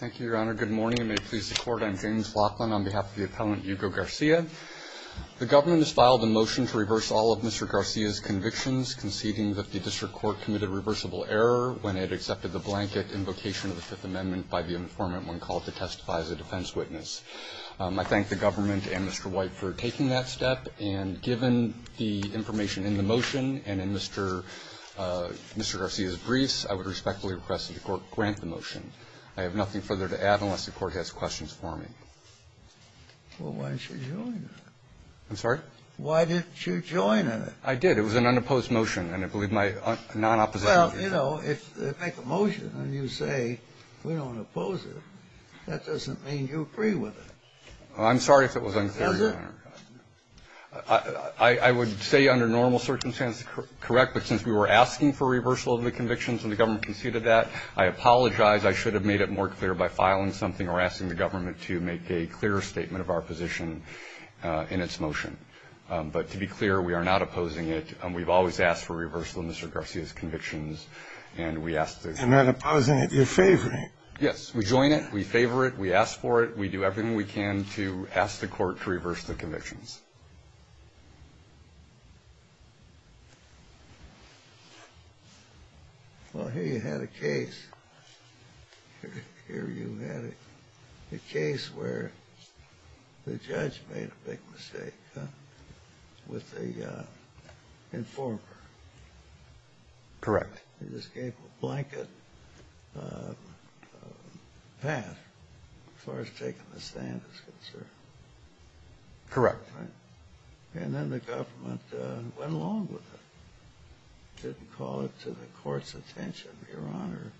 The government has filed a motion to reverse all of Mr. Garcia's convictions, conceding that the district court committed reversible error when it accepted the blanket invocation of the Fifth Amendment by the informant when called to testify as a defense witness. I thank the government and Mr. White for taking that step, and given the information in the motion and in Mr. Garcia's briefs, I would respectfully request that the Court grant the motion. I have nothing further to add unless the Court has questions for me. Kennedy Why didn't you join it? Waxman I'm sorry? Kennedy Why didn't you join it? Waxman I did. It was an unopposed motion, and I believe my non-opposition to it. Kennedy Well, if they make a motion and you say we don't oppose it, that doesn't mean you agree with it. Waxman I'm sorry if it was unclear, Your Honor. Kennedy Does it? Waxman I would say under normal circumstances, correct, but since we were asking for reversal of the convictions and the government conceded that, I apologize. I should have made it more clear by filing something or asking the government to make a clearer statement of our position in its motion. But to be clear, we are not opposing it, and we've always asked for reversal of Mr. Garcia's convictions, and we ask that the Court grant it. Kennedy You're not opposing it. You're favoring it. Waxman Yes. We join it, we favor it, we ask for it, we do everything we can to ask the Court to reverse the convictions. Kennedy Well, here you had a case. Here you had a case where the judge made a big mistake. With the informer. Waxman Correct. Kennedy He just gave a blanket pass as far as taking the stand is concerned. Waxman Correct. Kennedy And then the government went along with it, didn't call it to the Court's attention, Your Honor.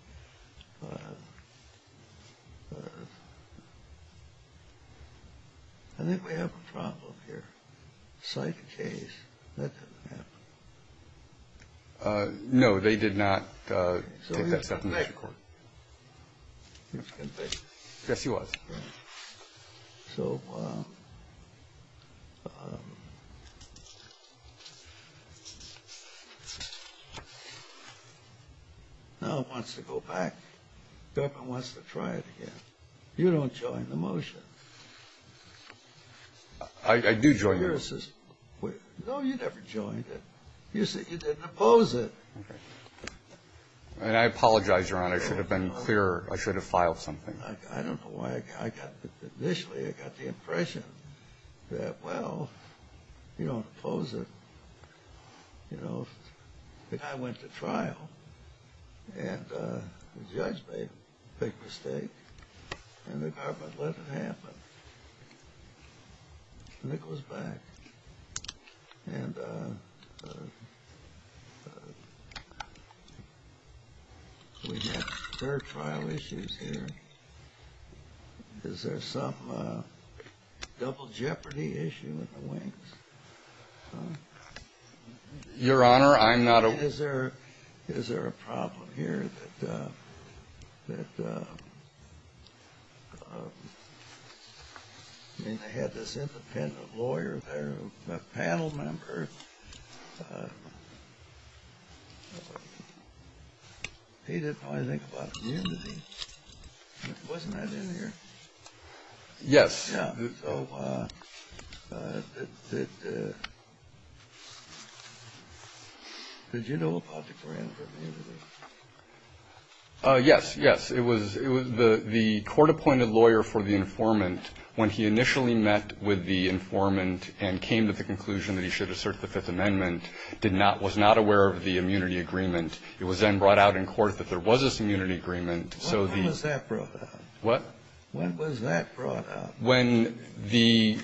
I think we have a problem here. Psych case. That doesn't happen. Waxman No, they did not take that sentence to the Court. Kennedy So he was a good baby. Waxman Yes, he was. Kennedy And I apologize, Your Honor, I should have been clearer. I should have filed something. I don't know why I got, initially I got the impression that, well, you don't oppose it. You know, I went to trial, and the judge made a big mistake, and the government let it happen, and it goes back. And we have third trial issues here. Is there some double jeopardy issue in the Wings? Waxman Your Honor, I'm not aware. Kennedy Is there a problem here that, I mean, they had this independent lawyer there who was a panel member. He didn't probably think about immunity. Wasn't that in there? Waxman Yes. Kennedy So did you know about the grant for immunity? Waxman Yes, yes. It was the court-appointed lawyer for the informant, when he initially met with the informant and came to the conclusion that he should assert the Fifth Amendment, did not, was not aware of the immunity agreement, it was then brought out in court that there was this immunity agreement, so the ---- Kennedy When was that brought out? Waxman What? Kennedy When was that brought out? Waxman When the,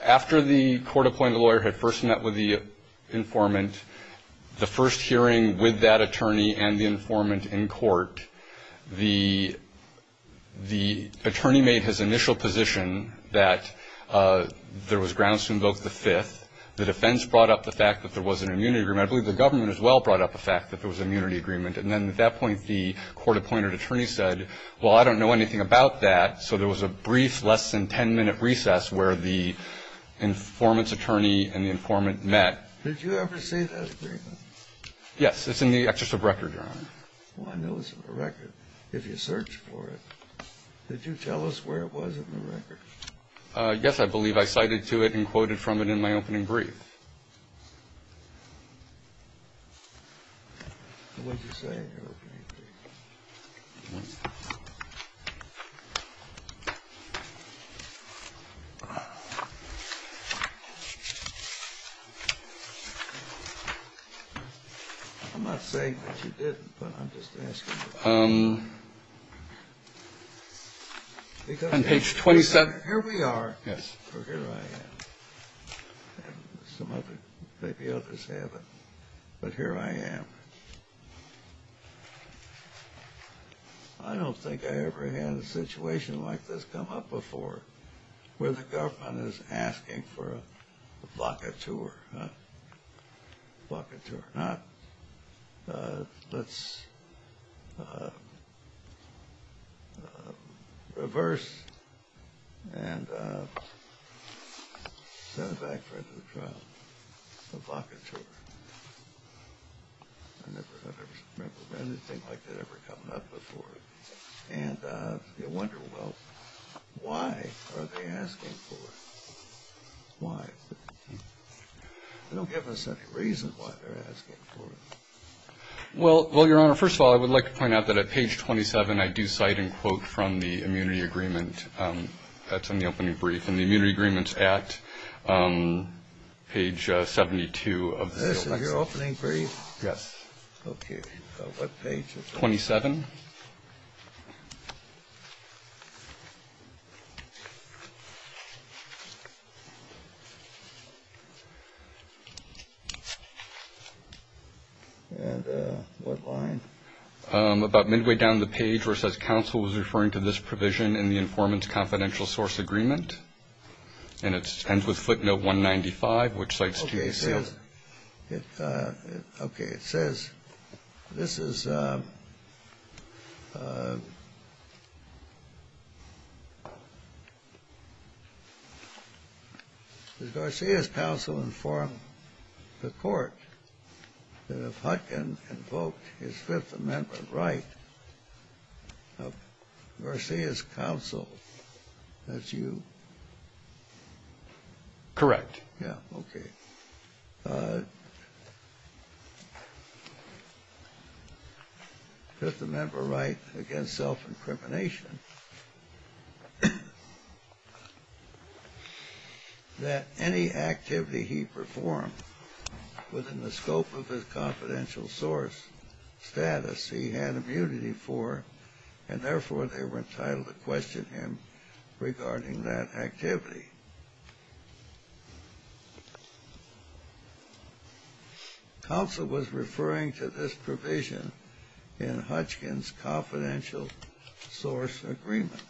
after the court-appointed lawyer had first met with the informant, the first hearing with that attorney and the informant in court, the attorney made his initial position that there was grounds to invoke the Fifth, the defense brought up the fact that there was an immunity agreement, I believe the government as well brought up the fact that there was an immunity agreement, and then at that point, the court-appointed attorney said, well, I don't know anything about that, so there was a brief, less than 10-minute recess where the informant's attorney and the informant met. Kennedy Did you ever see that briefing? Waxman Yes, it's in the Excerpt of Record, Your Honor. Kennedy Well, I know it's in the record, if you search for it. Did you tell us where it was in the record? Waxman Yes, I believe I cited to it and quoted from it in my opening brief. Kennedy And what did you say in your opening brief? I'm not saying that you didn't, but I'm just asking. Waxman Because here we are, or here I am, and some others, maybe others have it, but here I am. I don't think I ever had a situation like this come up before, where the government is asking for a vacateur, a vacateur. Now, let's reverse and set it back for another trial, a vacateur. I never remember anything like that ever coming up before, and you wonder, well, why are they asking for it? Why? They don't give us any reason why they're asking for it. Waxman Well, Your Honor, first of all, I would like to point out that at page 27 I do cite and quote from the immunity agreement. That's in the opening brief. And the immunity agreement's at page 72 of the Civil Rights Act. Kennedy This is your opening brief? Waxman Yes. Kennedy Okay. What page is it? Waxman 27. Kennedy And what line? Waxman About midway down the page where it says counsel was referring to this provision in the informant's confidential source agreement. And it ends with footnote 195, which cites two cases. Kennedy It says, okay, it says, this is, does Garcia's counsel inform the court that if Hutkin invoked his Fifth Amendment right, of Garcia's counsel, that's you? Waxman Correct. Kennedy Yeah, okay. Fifth Amendment right against self-incrimination, that any activity he performed within the scope of his confidential source status he had immunity for, and therefore, they were entitled to question him regarding that activity. Counsel was referring to this provision in Hutkin's confidential source agreement.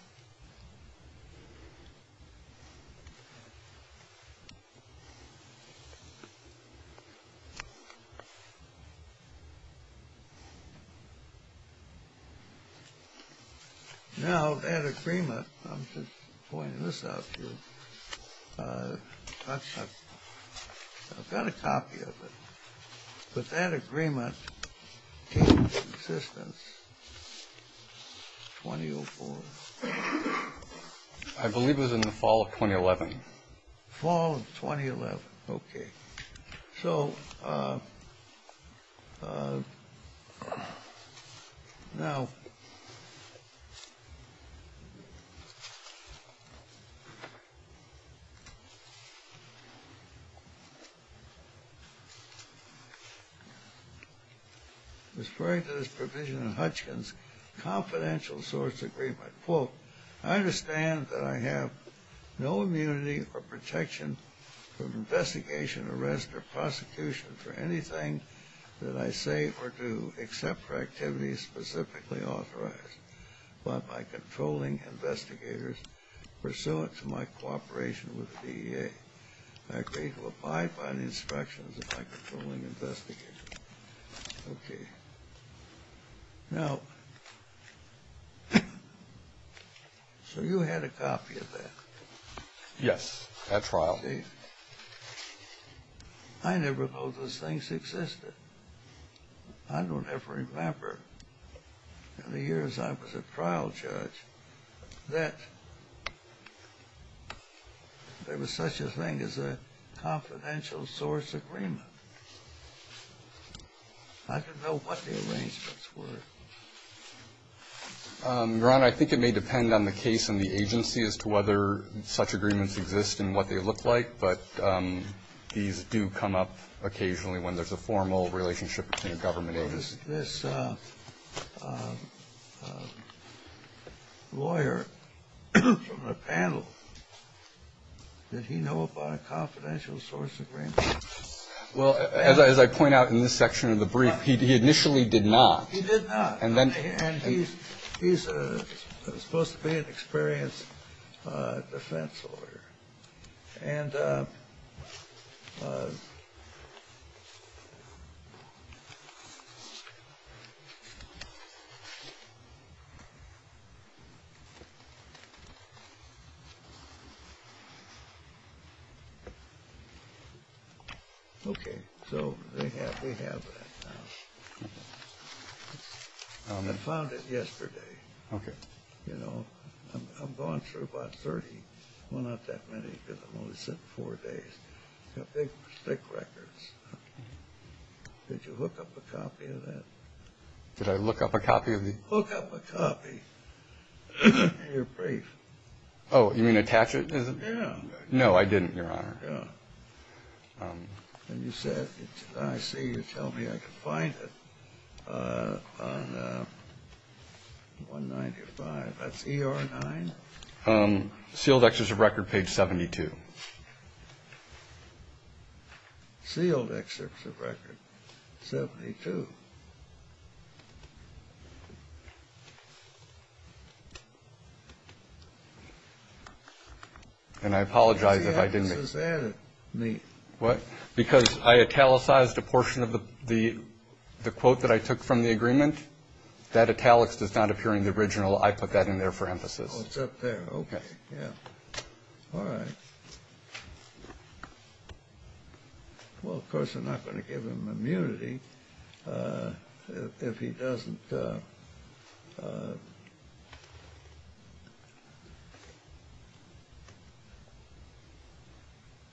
Now, that agreement, I'm just pointing this out to you, I've got a copy of it, but that agreement came into existence in 2004. Waxman I believe it was in the fall of 2011. Kennedy Fall of 2011. Okay. So now, referring to this provision in Hutkin's confidential source agreement, I quote, I understand that I have no immunity or protection from investigation, arrest, or prosecution for anything that I say or do except for activities specifically authorized by my controlling investigators pursuant to my cooperation with the DEA. I agree to abide by the instructions of my controlling investigators. Okay. Now, so you had a copy of that? Waxman Yes, at trial. Kennedy I never knew those things existed. I don't ever remember in the years I was a trial judge that there was such a thing as a confidential source agreement. I don't know what the arrangements were. Waxman Your Honor, I think it may depend on the case and the agency as to whether such agreements exist and what they look like, but these do come up occasionally when there's a formal relationship between a government agency. Kennedy Well, does this lawyer from the panel, did he know about a confidential source agreement? Waxman Well, as I point out in this section of the brief, he initially did not. Kennedy He did not. And he's supposed to be an experienced defense lawyer. Waxman Okay, so we have that now. I found it yesterday. You know, I'm going through about 30. Well, not that many because I'm only sitting four days. Got big stick records. Did you hook up a copy of that? Kennedy Did I look up a copy of the? Waxman Hook up a copy of your brief. Kennedy Oh, you mean attach it? Waxman Yeah. Kennedy No, I didn't, Your Honor. Waxman Yeah. Kennedy And you said, I see you tell me I can find it on 195. That's ER 9? Waxman Sealed excerpts of record, page 72. Kennedy Sealed excerpts of record, 72. Waxman And I apologize if I didn't make it. What? Because I italicized a portion of the quote that I took from the agreement. That italics does not appear in the original. I put that in there for emphasis. Kennedy Oh, it's up there. Okay. Yeah. All right. Well, of course, I'm not going to give him immunity if he doesn't.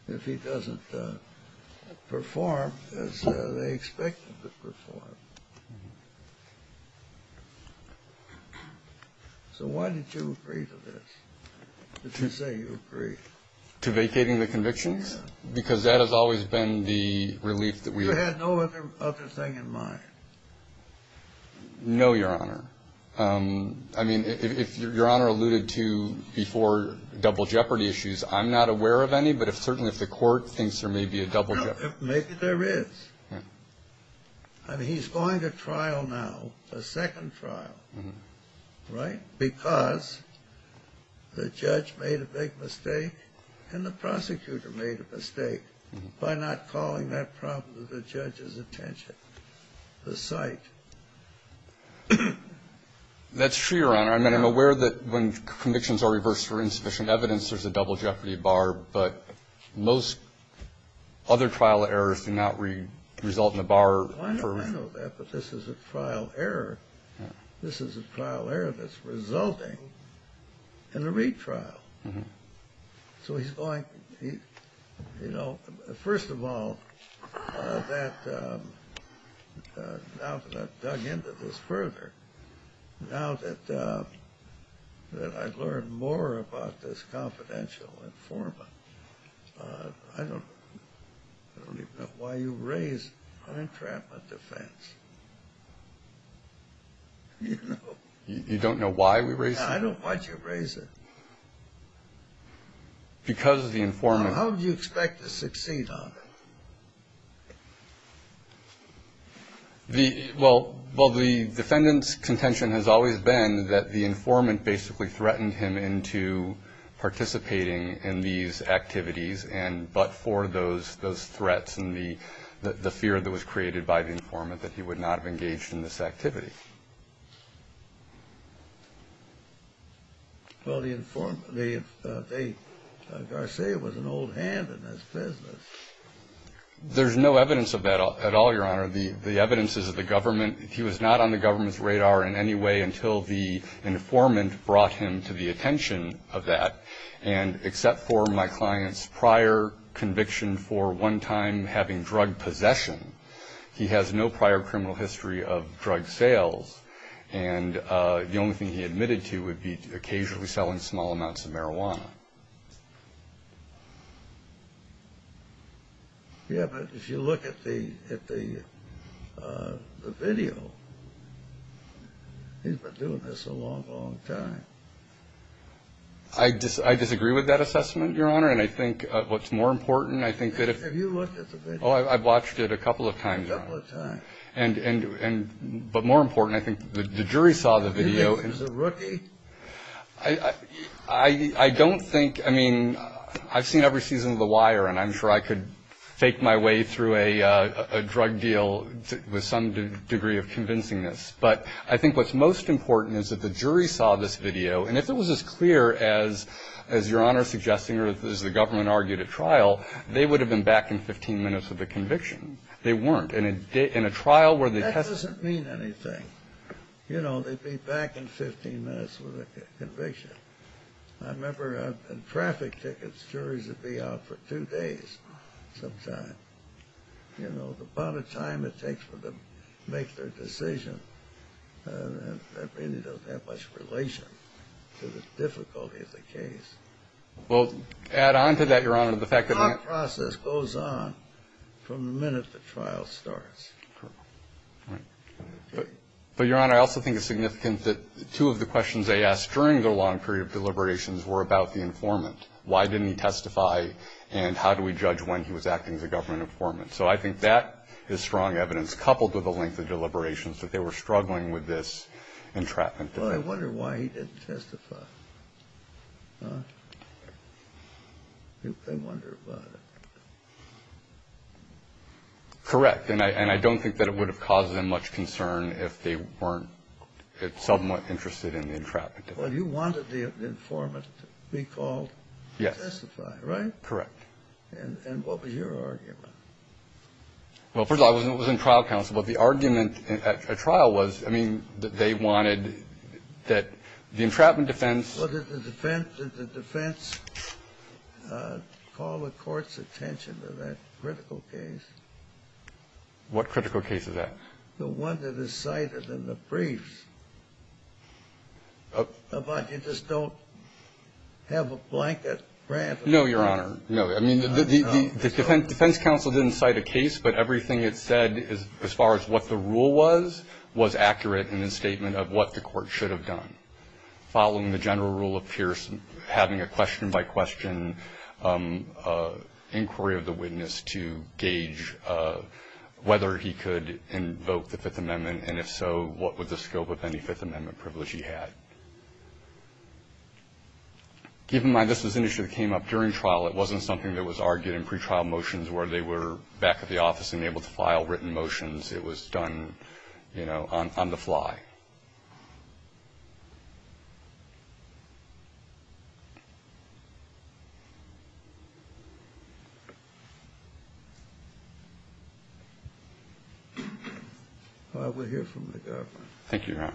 If he doesn't perform as they expect him to perform. So why did you agree to this, to say you agree? Waxman To vacating the convictions? Because that has always been the relief that we. Kennedy You had no other thing in mind? Waxman No, Your Honor. I mean, if Your Honor alluded to before double jeopardy issues, I'm not aware of any. But certainly if the court thinks there may be a double jeopardy. Kennedy Maybe there is. I mean, he's going to trial now, a second trial. Right? Because the judge made a big mistake and the prosecutor made a mistake by not calling that problem to the judge's attention. The site. Waxman That's true, Your Honor. I mean, I'm aware that when convictions are reversed for insufficient evidence, there's a double jeopardy bar. But most other trial errors do not result in a bar for. Kennedy I know that, but this is a trial error. This is a trial error that's resulting in a retrial. So he's going, you know, first of all, now that I've dug into this further, now that I've learned more about this confidential informant, I don't even know why you raise an entrapment defense. You know? Waxman You don't know why we raise it? Because of the informant. Kennedy How do you expect to succeed on it? Waxman Well, the defendant's contention has always been that the informant basically threatened him into participating in these activities, but for those threats and the fear that was created by the informant that he would not have engaged in this activity. Kennedy Well, the informant, Garcia was an old hand in this business. Waxman There's no evidence of that at all, Your Honor. The evidence is the government. He was not on the government's radar in any way until the informant brought him to the attention of that. And except for my client's prior conviction for one time having drug possession, he has no prior criminal history of drug sales. And the only thing he admitted to would be occasionally selling small amounts of marijuana. Kennedy Yeah, but if you look at the video, he's been doing this a long, long time. Waxman I disagree with that assessment, Your Honor. And I think what's more important, I think that if – Kennedy Have you looked at the video? Waxman Oh, I've watched it a couple of times, Your Honor. Kennedy A couple of times. Waxman But more important, I think the jury saw the video. Kennedy Is he a rookie? Waxman I don't think – I mean, I've seen every season of The Wire, and I'm sure I could fake my way through a drug deal with some degree of convincingness. But I think what's most important is that the jury saw this video. And if it was as clear as Your Honor is suggesting or as the government argued at trial, they would have been back in 15 minutes with a conviction. They weren't. In a trial where the – Kennedy That doesn't mean anything. You know, they'd be back in 15 minutes with a conviction. I remember in traffic tickets, juries would be out for two days sometimes. You know, the amount of time it takes for them to make their decision, that really doesn't have much relation to the difficulty of the case. Waxman Well, to add on to that, Your Honor, the fact that the – Kennedy Our process goes on from the minute the trial starts. Waxman Right. But, Your Honor, I also think it's significant that two of the questions they asked during the long period of deliberations were about the informant, why didn't he testify and how do we judge when he was acting as a government informant. So I think that is strong evidence, coupled with the length of deliberations, that they were struggling with this entrapment. Kennedy Well, I wonder why he didn't testify. I wonder about it. Waxman Correct. And I don't think that it would have caused them much concern if they weren't somewhat interested in the entrapment defense. Kennedy Well, you wanted the informant to be called to testify, right? Waxman Correct. Kennedy And what was your argument? Waxman Well, first of all, I wasn't in trial counsel. But the argument at trial was, I mean, that they wanted that the entrapment defense – Kennedy Well, did the defense call the court's attention to that critical case? Waxman What critical case is that? Kennedy The one that is cited in the briefs about you just don't have a blanket grant of honor. Waxman No, Your Honor. No. I mean, the defense counsel didn't cite a case, but everything it said as far as what the rule was, was accurate in its statement of what the court should have done. Following the general rule of Pierce, having a question-by-question inquiry of the witness to gauge whether he could invoke the Fifth Amendment, and if so, what would the scope of any Fifth Amendment privilege he had. Given my business initiative came up during trial, it wasn't something that was argued in pretrial motions where they were back at the office and able to file written motions. It was done, you know, on the fly. Well, we'll hear from the government. Waxman Thank you, Your Honor.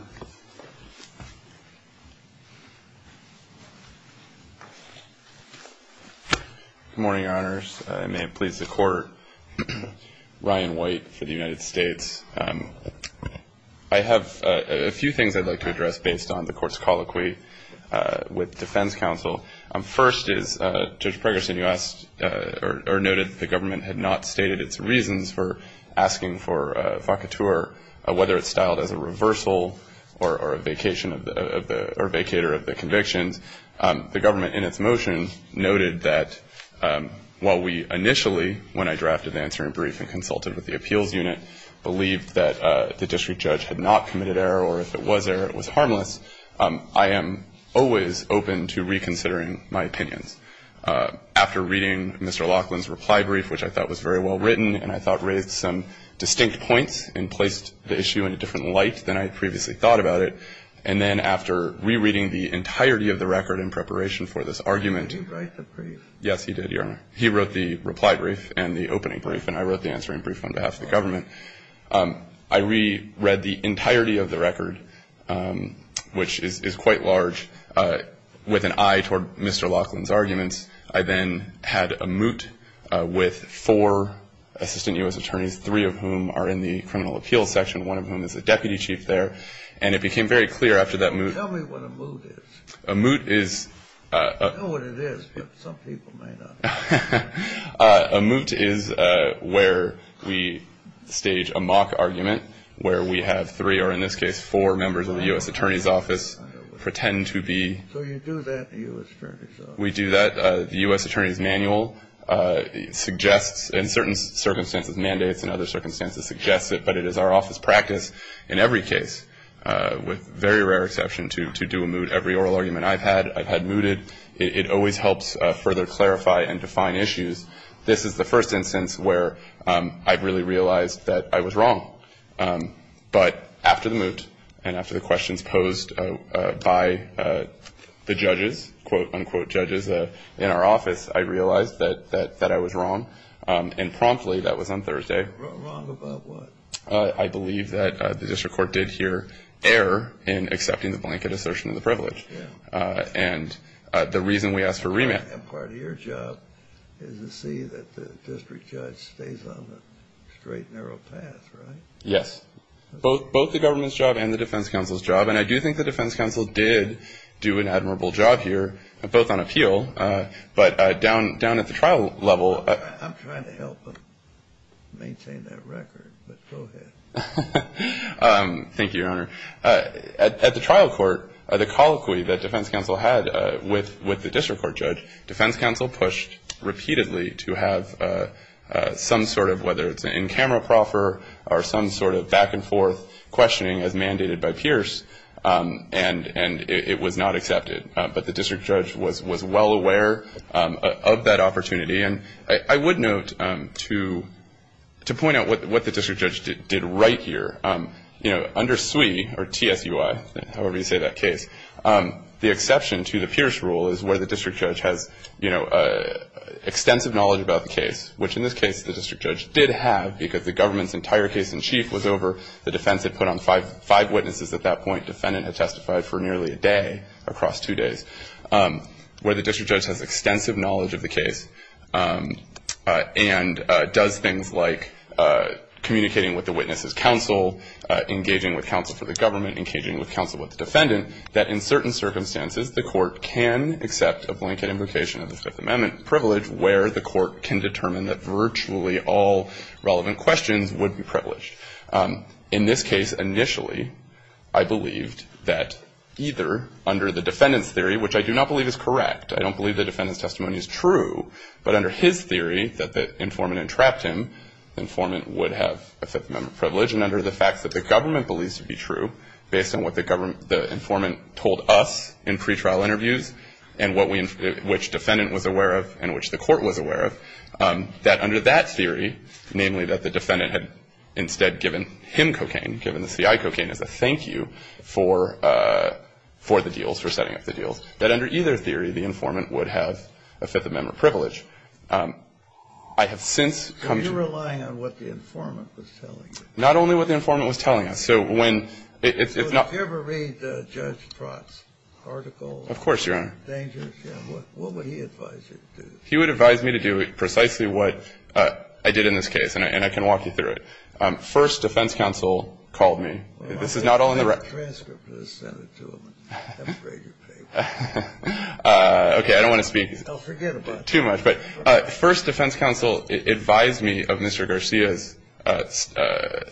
Good morning, Your Honors. May it please the Court. Ryan White for the United States. I have a few things I'd like to address based on the Court's colloquy with defense counsel. First is, Judge Pregerson, you asked or noted that the government had not stated its reasons for asking for a vacatur, whether it's styled as a reversal or a vacation of the or vacater of the convictions. The government in its motion noted that while we initially, when I drafted the answering brief and consulted with the appeals unit, believed that the district judge had not committed error, or if it was error, it was harmless, I am always open to reconsidering my opinions. After reading Mr. Laughlin's reply brief, which I thought was very well written and I thought raised some distinct points and placed the issue in a different light than I had previously thought about it, and then after rereading the entirety of the record in preparation for this argument. Did he write the brief? Yes, he did, Your Honor. He wrote the reply brief and the opening brief, and I wrote the answering brief on behalf of the government. I reread the entirety of the record, which is quite large, with an eye toward Mr. Laughlin's arguments. I then had a moot with four assistant U.S. attorneys, three of whom are in the criminal appeals section, one of whom is a deputy chief there. And it became very clear after that moot. Tell me what a moot is. A moot is a. I don't know what it is, but some people might know. A moot is where we stage a mock argument where we have three or, in this case, four members of the U.S. Attorney's Office pretend to be. So you do that in the U.S. Attorney's Office. We do that. The U.S. Attorney's Manual suggests, in certain circumstances, mandates and other circumstances suggests it, but it is our office practice in every case, with very rare exception, to do a moot. Every oral argument I've had, I've had mooted. It always helps further clarify and define issues. This is the first instance where I really realized that I was wrong. But after the moot and after the questions posed by the judges, quote, unquote judges, in our office, I realized that I was wrong. And promptly, that was on Thursday. Wrong about what? I believe that the district court did here err in accepting the blanket assertion of the privilege. And the reason we asked for remand. And part of your job is to see that the district judge stays on the straight, narrow path, right? Yes. Both the government's job and the defense counsel's job. And I do think the defense counsel did do an admirable job here, both on appeal, but down at the trial level. I'm trying to help him maintain that record, but go ahead. Thank you, Your Honor. At the trial court, the colloquy that defense counsel had with the district court judge, defense counsel pushed repeatedly to have some sort of, whether it's an in-camera proffer or some sort of back-and-forth questioning as mandated by Pierce, and it was not accepted. But the district judge was well aware of that opportunity. And I would note, to point out what the district judge did right here, you know, under SUI, or T-S-U-I, however you say that case, the exception to the Pierce rule is where the district judge has, you know, extensive knowledge about the case, which in this case the district judge did have because the government's entire case in chief was over. The defense had put on five witnesses at that point. Defendant had testified for nearly a day across two days. Where the district judge has extensive knowledge of the case and does things like communicating with the witness's counsel, engaging with counsel for the government, engaging with counsel with the defendant, that in certain circumstances the court can accept a blanket invocation of the Fifth Amendment privilege where the court can determine that virtually all relevant questions would be privileged. In this case, initially, I believed that either under the defendant's theory, which I do not believe is correct, I don't believe the defendant's testimony is true, but under his theory that the informant entrapped him, the informant would have a Fifth Amendment privilege. And under the fact that the government believes to be true, based on what the informant told us in pretrial interviews and which defendant was aware of and which the court was aware of, that under that theory, namely that the defendant had instead given him cocaine, given the C-I cocaine as a thank you for the deals, for setting up the deals, that under either theory the informant would have a Fifth Amendment privilege. I have since come to the point of view. Kennedy. So you're relying on what the informant was telling you. Fisher. Not only what the informant was telling us. So when you're not. Kennedy. So did you ever read Judge Trott's article? Fisher. Of course, Your Honor. Kennedy. What would he advise you to do? Fisher. He would advise me to do precisely what I did in this case, and I can walk you through it. First, defense counsel called me. This is not all in the record. Okay, I don't want to speak too much, but first, defense counsel advised me of Mr. Garcia's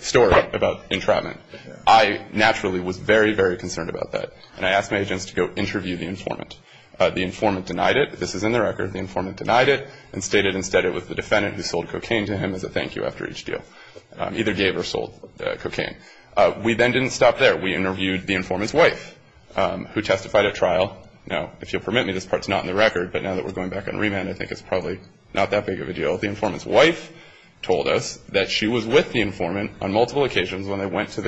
story about entrapment. I naturally was very, very concerned about that, and I asked my agents to go interview the informant. The informant denied it. This is in the record. The informant denied it and stated instead it was the defendant who sold cocaine to him as a thank you after each deal. Either gave or sold cocaine. We then didn't stop there. We interviewed the informant's wife, who testified at trial. Now, if you'll permit me, this part's not in the record, but now that we're going back on remand, I think it's probably not that big of a deal. The informant's wife told us that she was with the informant on multiple occasions when they went to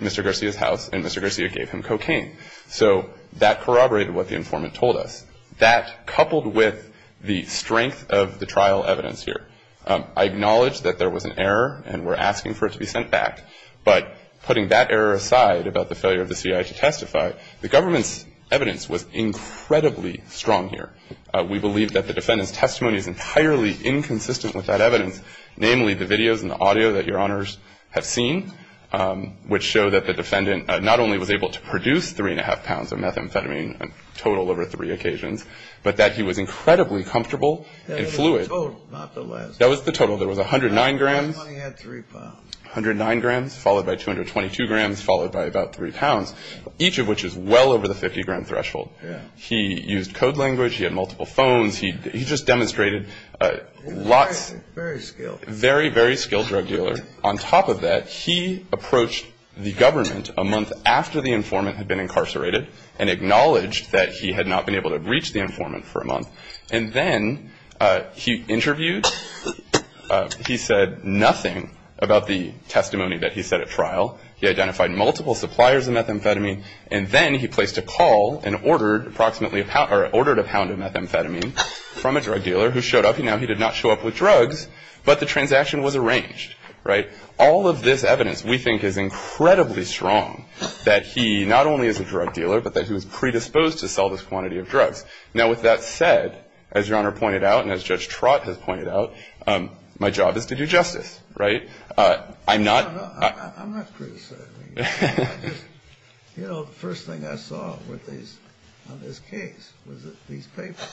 Mr. Garcia's house and Mr. Garcia gave him cocaine. So that corroborated what the informant told us. That, coupled with the strength of the trial evidence here, I acknowledge that there was an error and we're asking for it to be sent back. But putting that error aside about the failure of the CIA to testify, the government's evidence was incredibly strong here. We believe that the defendant's testimony is entirely inconsistent with that evidence, namely the videos and the audio that Your Honors have seen, which show that the defendant not only was able to produce three and a half pounds of methamphetamine, a total over three occasions, but that he was incredibly comfortable and fluid. That was the total, not the last one. That was the total. There was 109 grams. The last one he had three pounds. 109 grams, followed by 222 grams, followed by about three pounds, each of which is well over the 50-gram threshold. He used code language. He had multiple phones. He just demonstrated lots. Very skilled. Very, very skilled drug dealer. On top of that, he approached the government a month after the informant had been incarcerated and acknowledged that he had not been able to reach the informant for a month. And then he interviewed. He said nothing about the testimony that he said at trial. He identified multiple suppliers of methamphetamine, and then he placed a call and ordered approximately a pound of methamphetamine from a drug dealer who showed up. Now, he did not show up with drugs, but the transaction was arranged, right? All of this evidence we think is incredibly strong, that he not only is a drug dealer, but that he was predisposed to sell this quantity of drugs. Now, with that said, as Your Honor pointed out and as Judge Trott has pointed out, my job is to do justice, right? I'm not. I'm not criticizing you. You know, the first thing I saw on this case was these papers.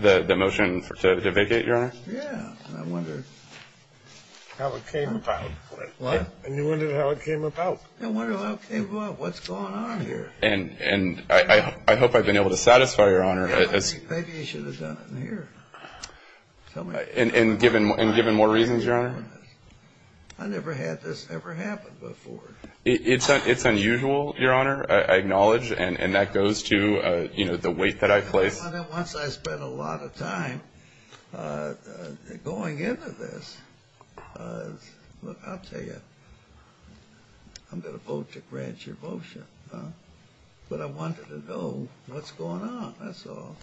The motion to vacate, Your Honor? Yeah. And I wondered. How it came about. What? And you wondered how it came about. I wondered how it came about, what's going on here. And I hope I've been able to satisfy Your Honor. Maybe you should have done it in here. And given more reasons, Your Honor? I never had this ever happen before. It's unusual, Your Honor, I acknowledge, and that goes to, you know, the weight that I place. Once I spend a lot of time going into this, look, I'll tell you. I'm going to vote to grant your motion. But I wanted to know what's going on, that's all.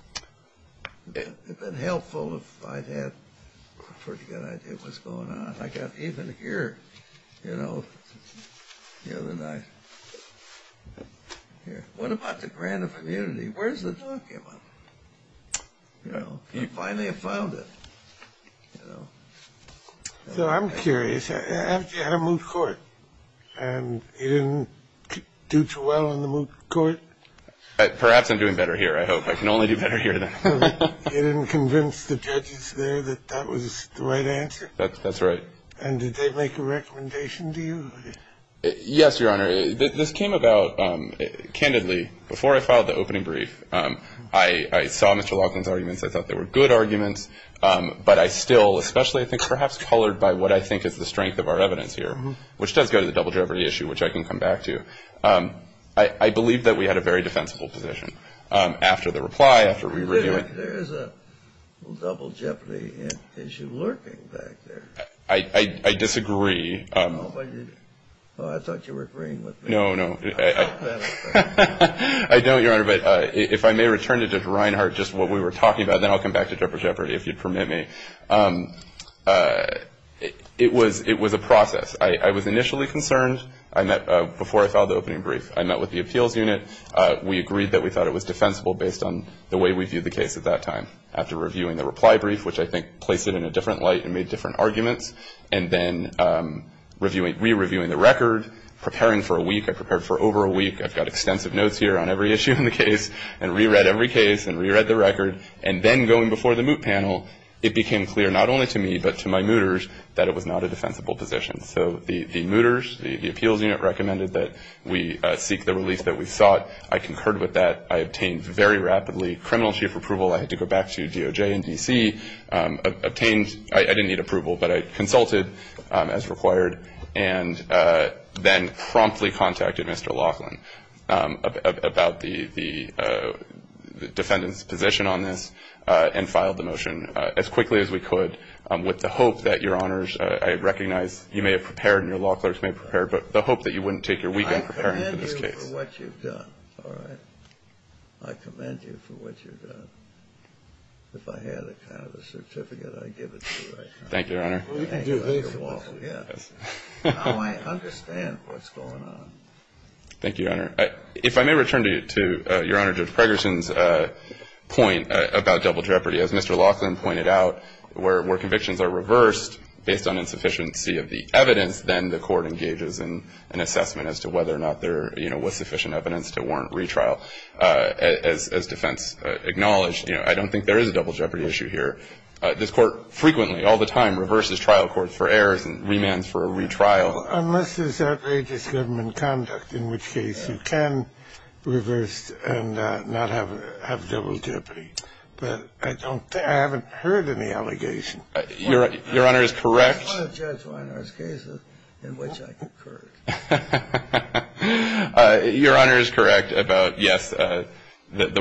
It would have been helpful if I had a pretty good idea of what's going on. I got even here, you know, the other night. What about the grant of immunity? Where's the document? You know, I finally found it, you know. So I'm curious. You had a moot court, and you didn't do too well in the moot court? Perhaps I'm doing better here, I hope. I can only do better here, then. You didn't convince the judges there that that was the right answer? That's right. And did they make a recommendation to you? Yes, Your Honor. This came about, candidly, before I filed the opening brief. I saw Mr. Laughlin's arguments. I thought they were good arguments. But I still, especially I think perhaps colored by what I think is the strength of our evidence here, which does go to the double jeopardy issue, which I can come back to. I believe that we had a very defensible position after the reply, after we reviewed it. There is a double jeopardy issue lurking back there. I disagree. Oh, I thought you were agreeing with me. No, no. I don't, Your Honor. But if I may return to Judge Reinhardt, just what we were talking about. Then I'll come back to double jeopardy, if you'd permit me. It was a process. I was initially concerned before I filed the opening brief. I met with the appeals unit. We agreed that we thought it was defensible based on the way we viewed the case at that time. After reviewing the reply brief, which I think placed it in a different light and made different arguments, and then re-reviewing the record, preparing for a week. I prepared for over a week. I've got extensive notes here on every issue in the case and re-read every case and re-read the record. And then going before the moot panel, it became clear not only to me but to my mooters that it was not a defensible position. So the mooters, the appeals unit, recommended that we seek the release that we sought. I concurred with that. I obtained very rapidly criminal chief approval. I had to go back to DOJ and D.C., obtained. I didn't need approval, but I consulted as required and then promptly contacted Mr. Laughlin about the defendant's position on this and filed the motion as quickly as we could with the hope that, Your Honors, I recognize you may have prepared and your law clerks may have prepared, but the hope that you wouldn't take your week in preparing for this case. I commend you for what you've done. All right? I commend you for what you've done. If I had a kind of a certificate, I'd give it to you right now. Thank you, Your Honor. You can do this. Yes. Now I understand what's going on. Thank you, Your Honor. If I may return to Your Honor Judge Pregerson's point about double jeopardy. As Mr. Laughlin pointed out, where convictions are reversed based on insufficiency of the evidence, then the court engages in an assessment as to whether or not there I don't think there is a double jeopardy issue here. This court frequently, all the time, reverses trial courts for errors and remands for a retrial. Unless it's outrageous government conduct, in which case you can reverse and not have double jeopardy. But I haven't heard any allegations. Your Honor is correct. I'm not a judge who honors cases in which I concur. Your Honor is correct about, yes, the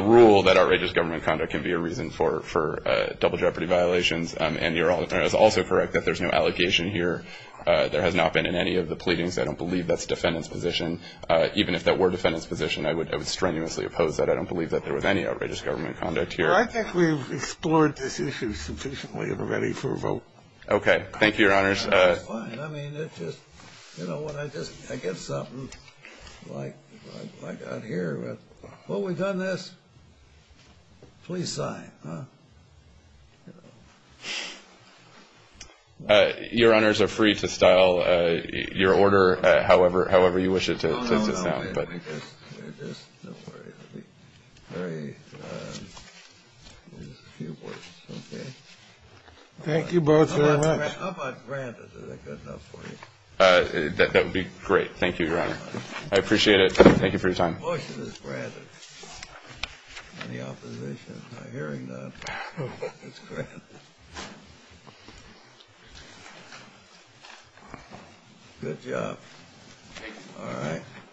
rule that outrageous government conduct can be a reason for double jeopardy violations. And Your Honor is also correct that there's no allegation here. There has not been in any of the pleadings. I don't believe that's defendant's position. Even if that were defendant's position, I would strenuously oppose that. I don't believe that there was any outrageous government conduct here. Well, I think we've explored this issue sufficiently already for a vote. Okay. Thank you, Your Honors. No, it's fine. I mean, it's just, you know what, I get something like out here. Well, we've done this. Please sign. Your Honors are free to style your order however you wish it to sound. No, no, no. We're just, don't worry. It'll be very, just a few words. Okay? Thank you both very much. How about granted? Is that good enough for you? That would be great. Thank you, Your Honor. I appreciate it. Thank you for your time. The motion is granted. Any opposition? I'm hearing none. It's granted. Good job. All right.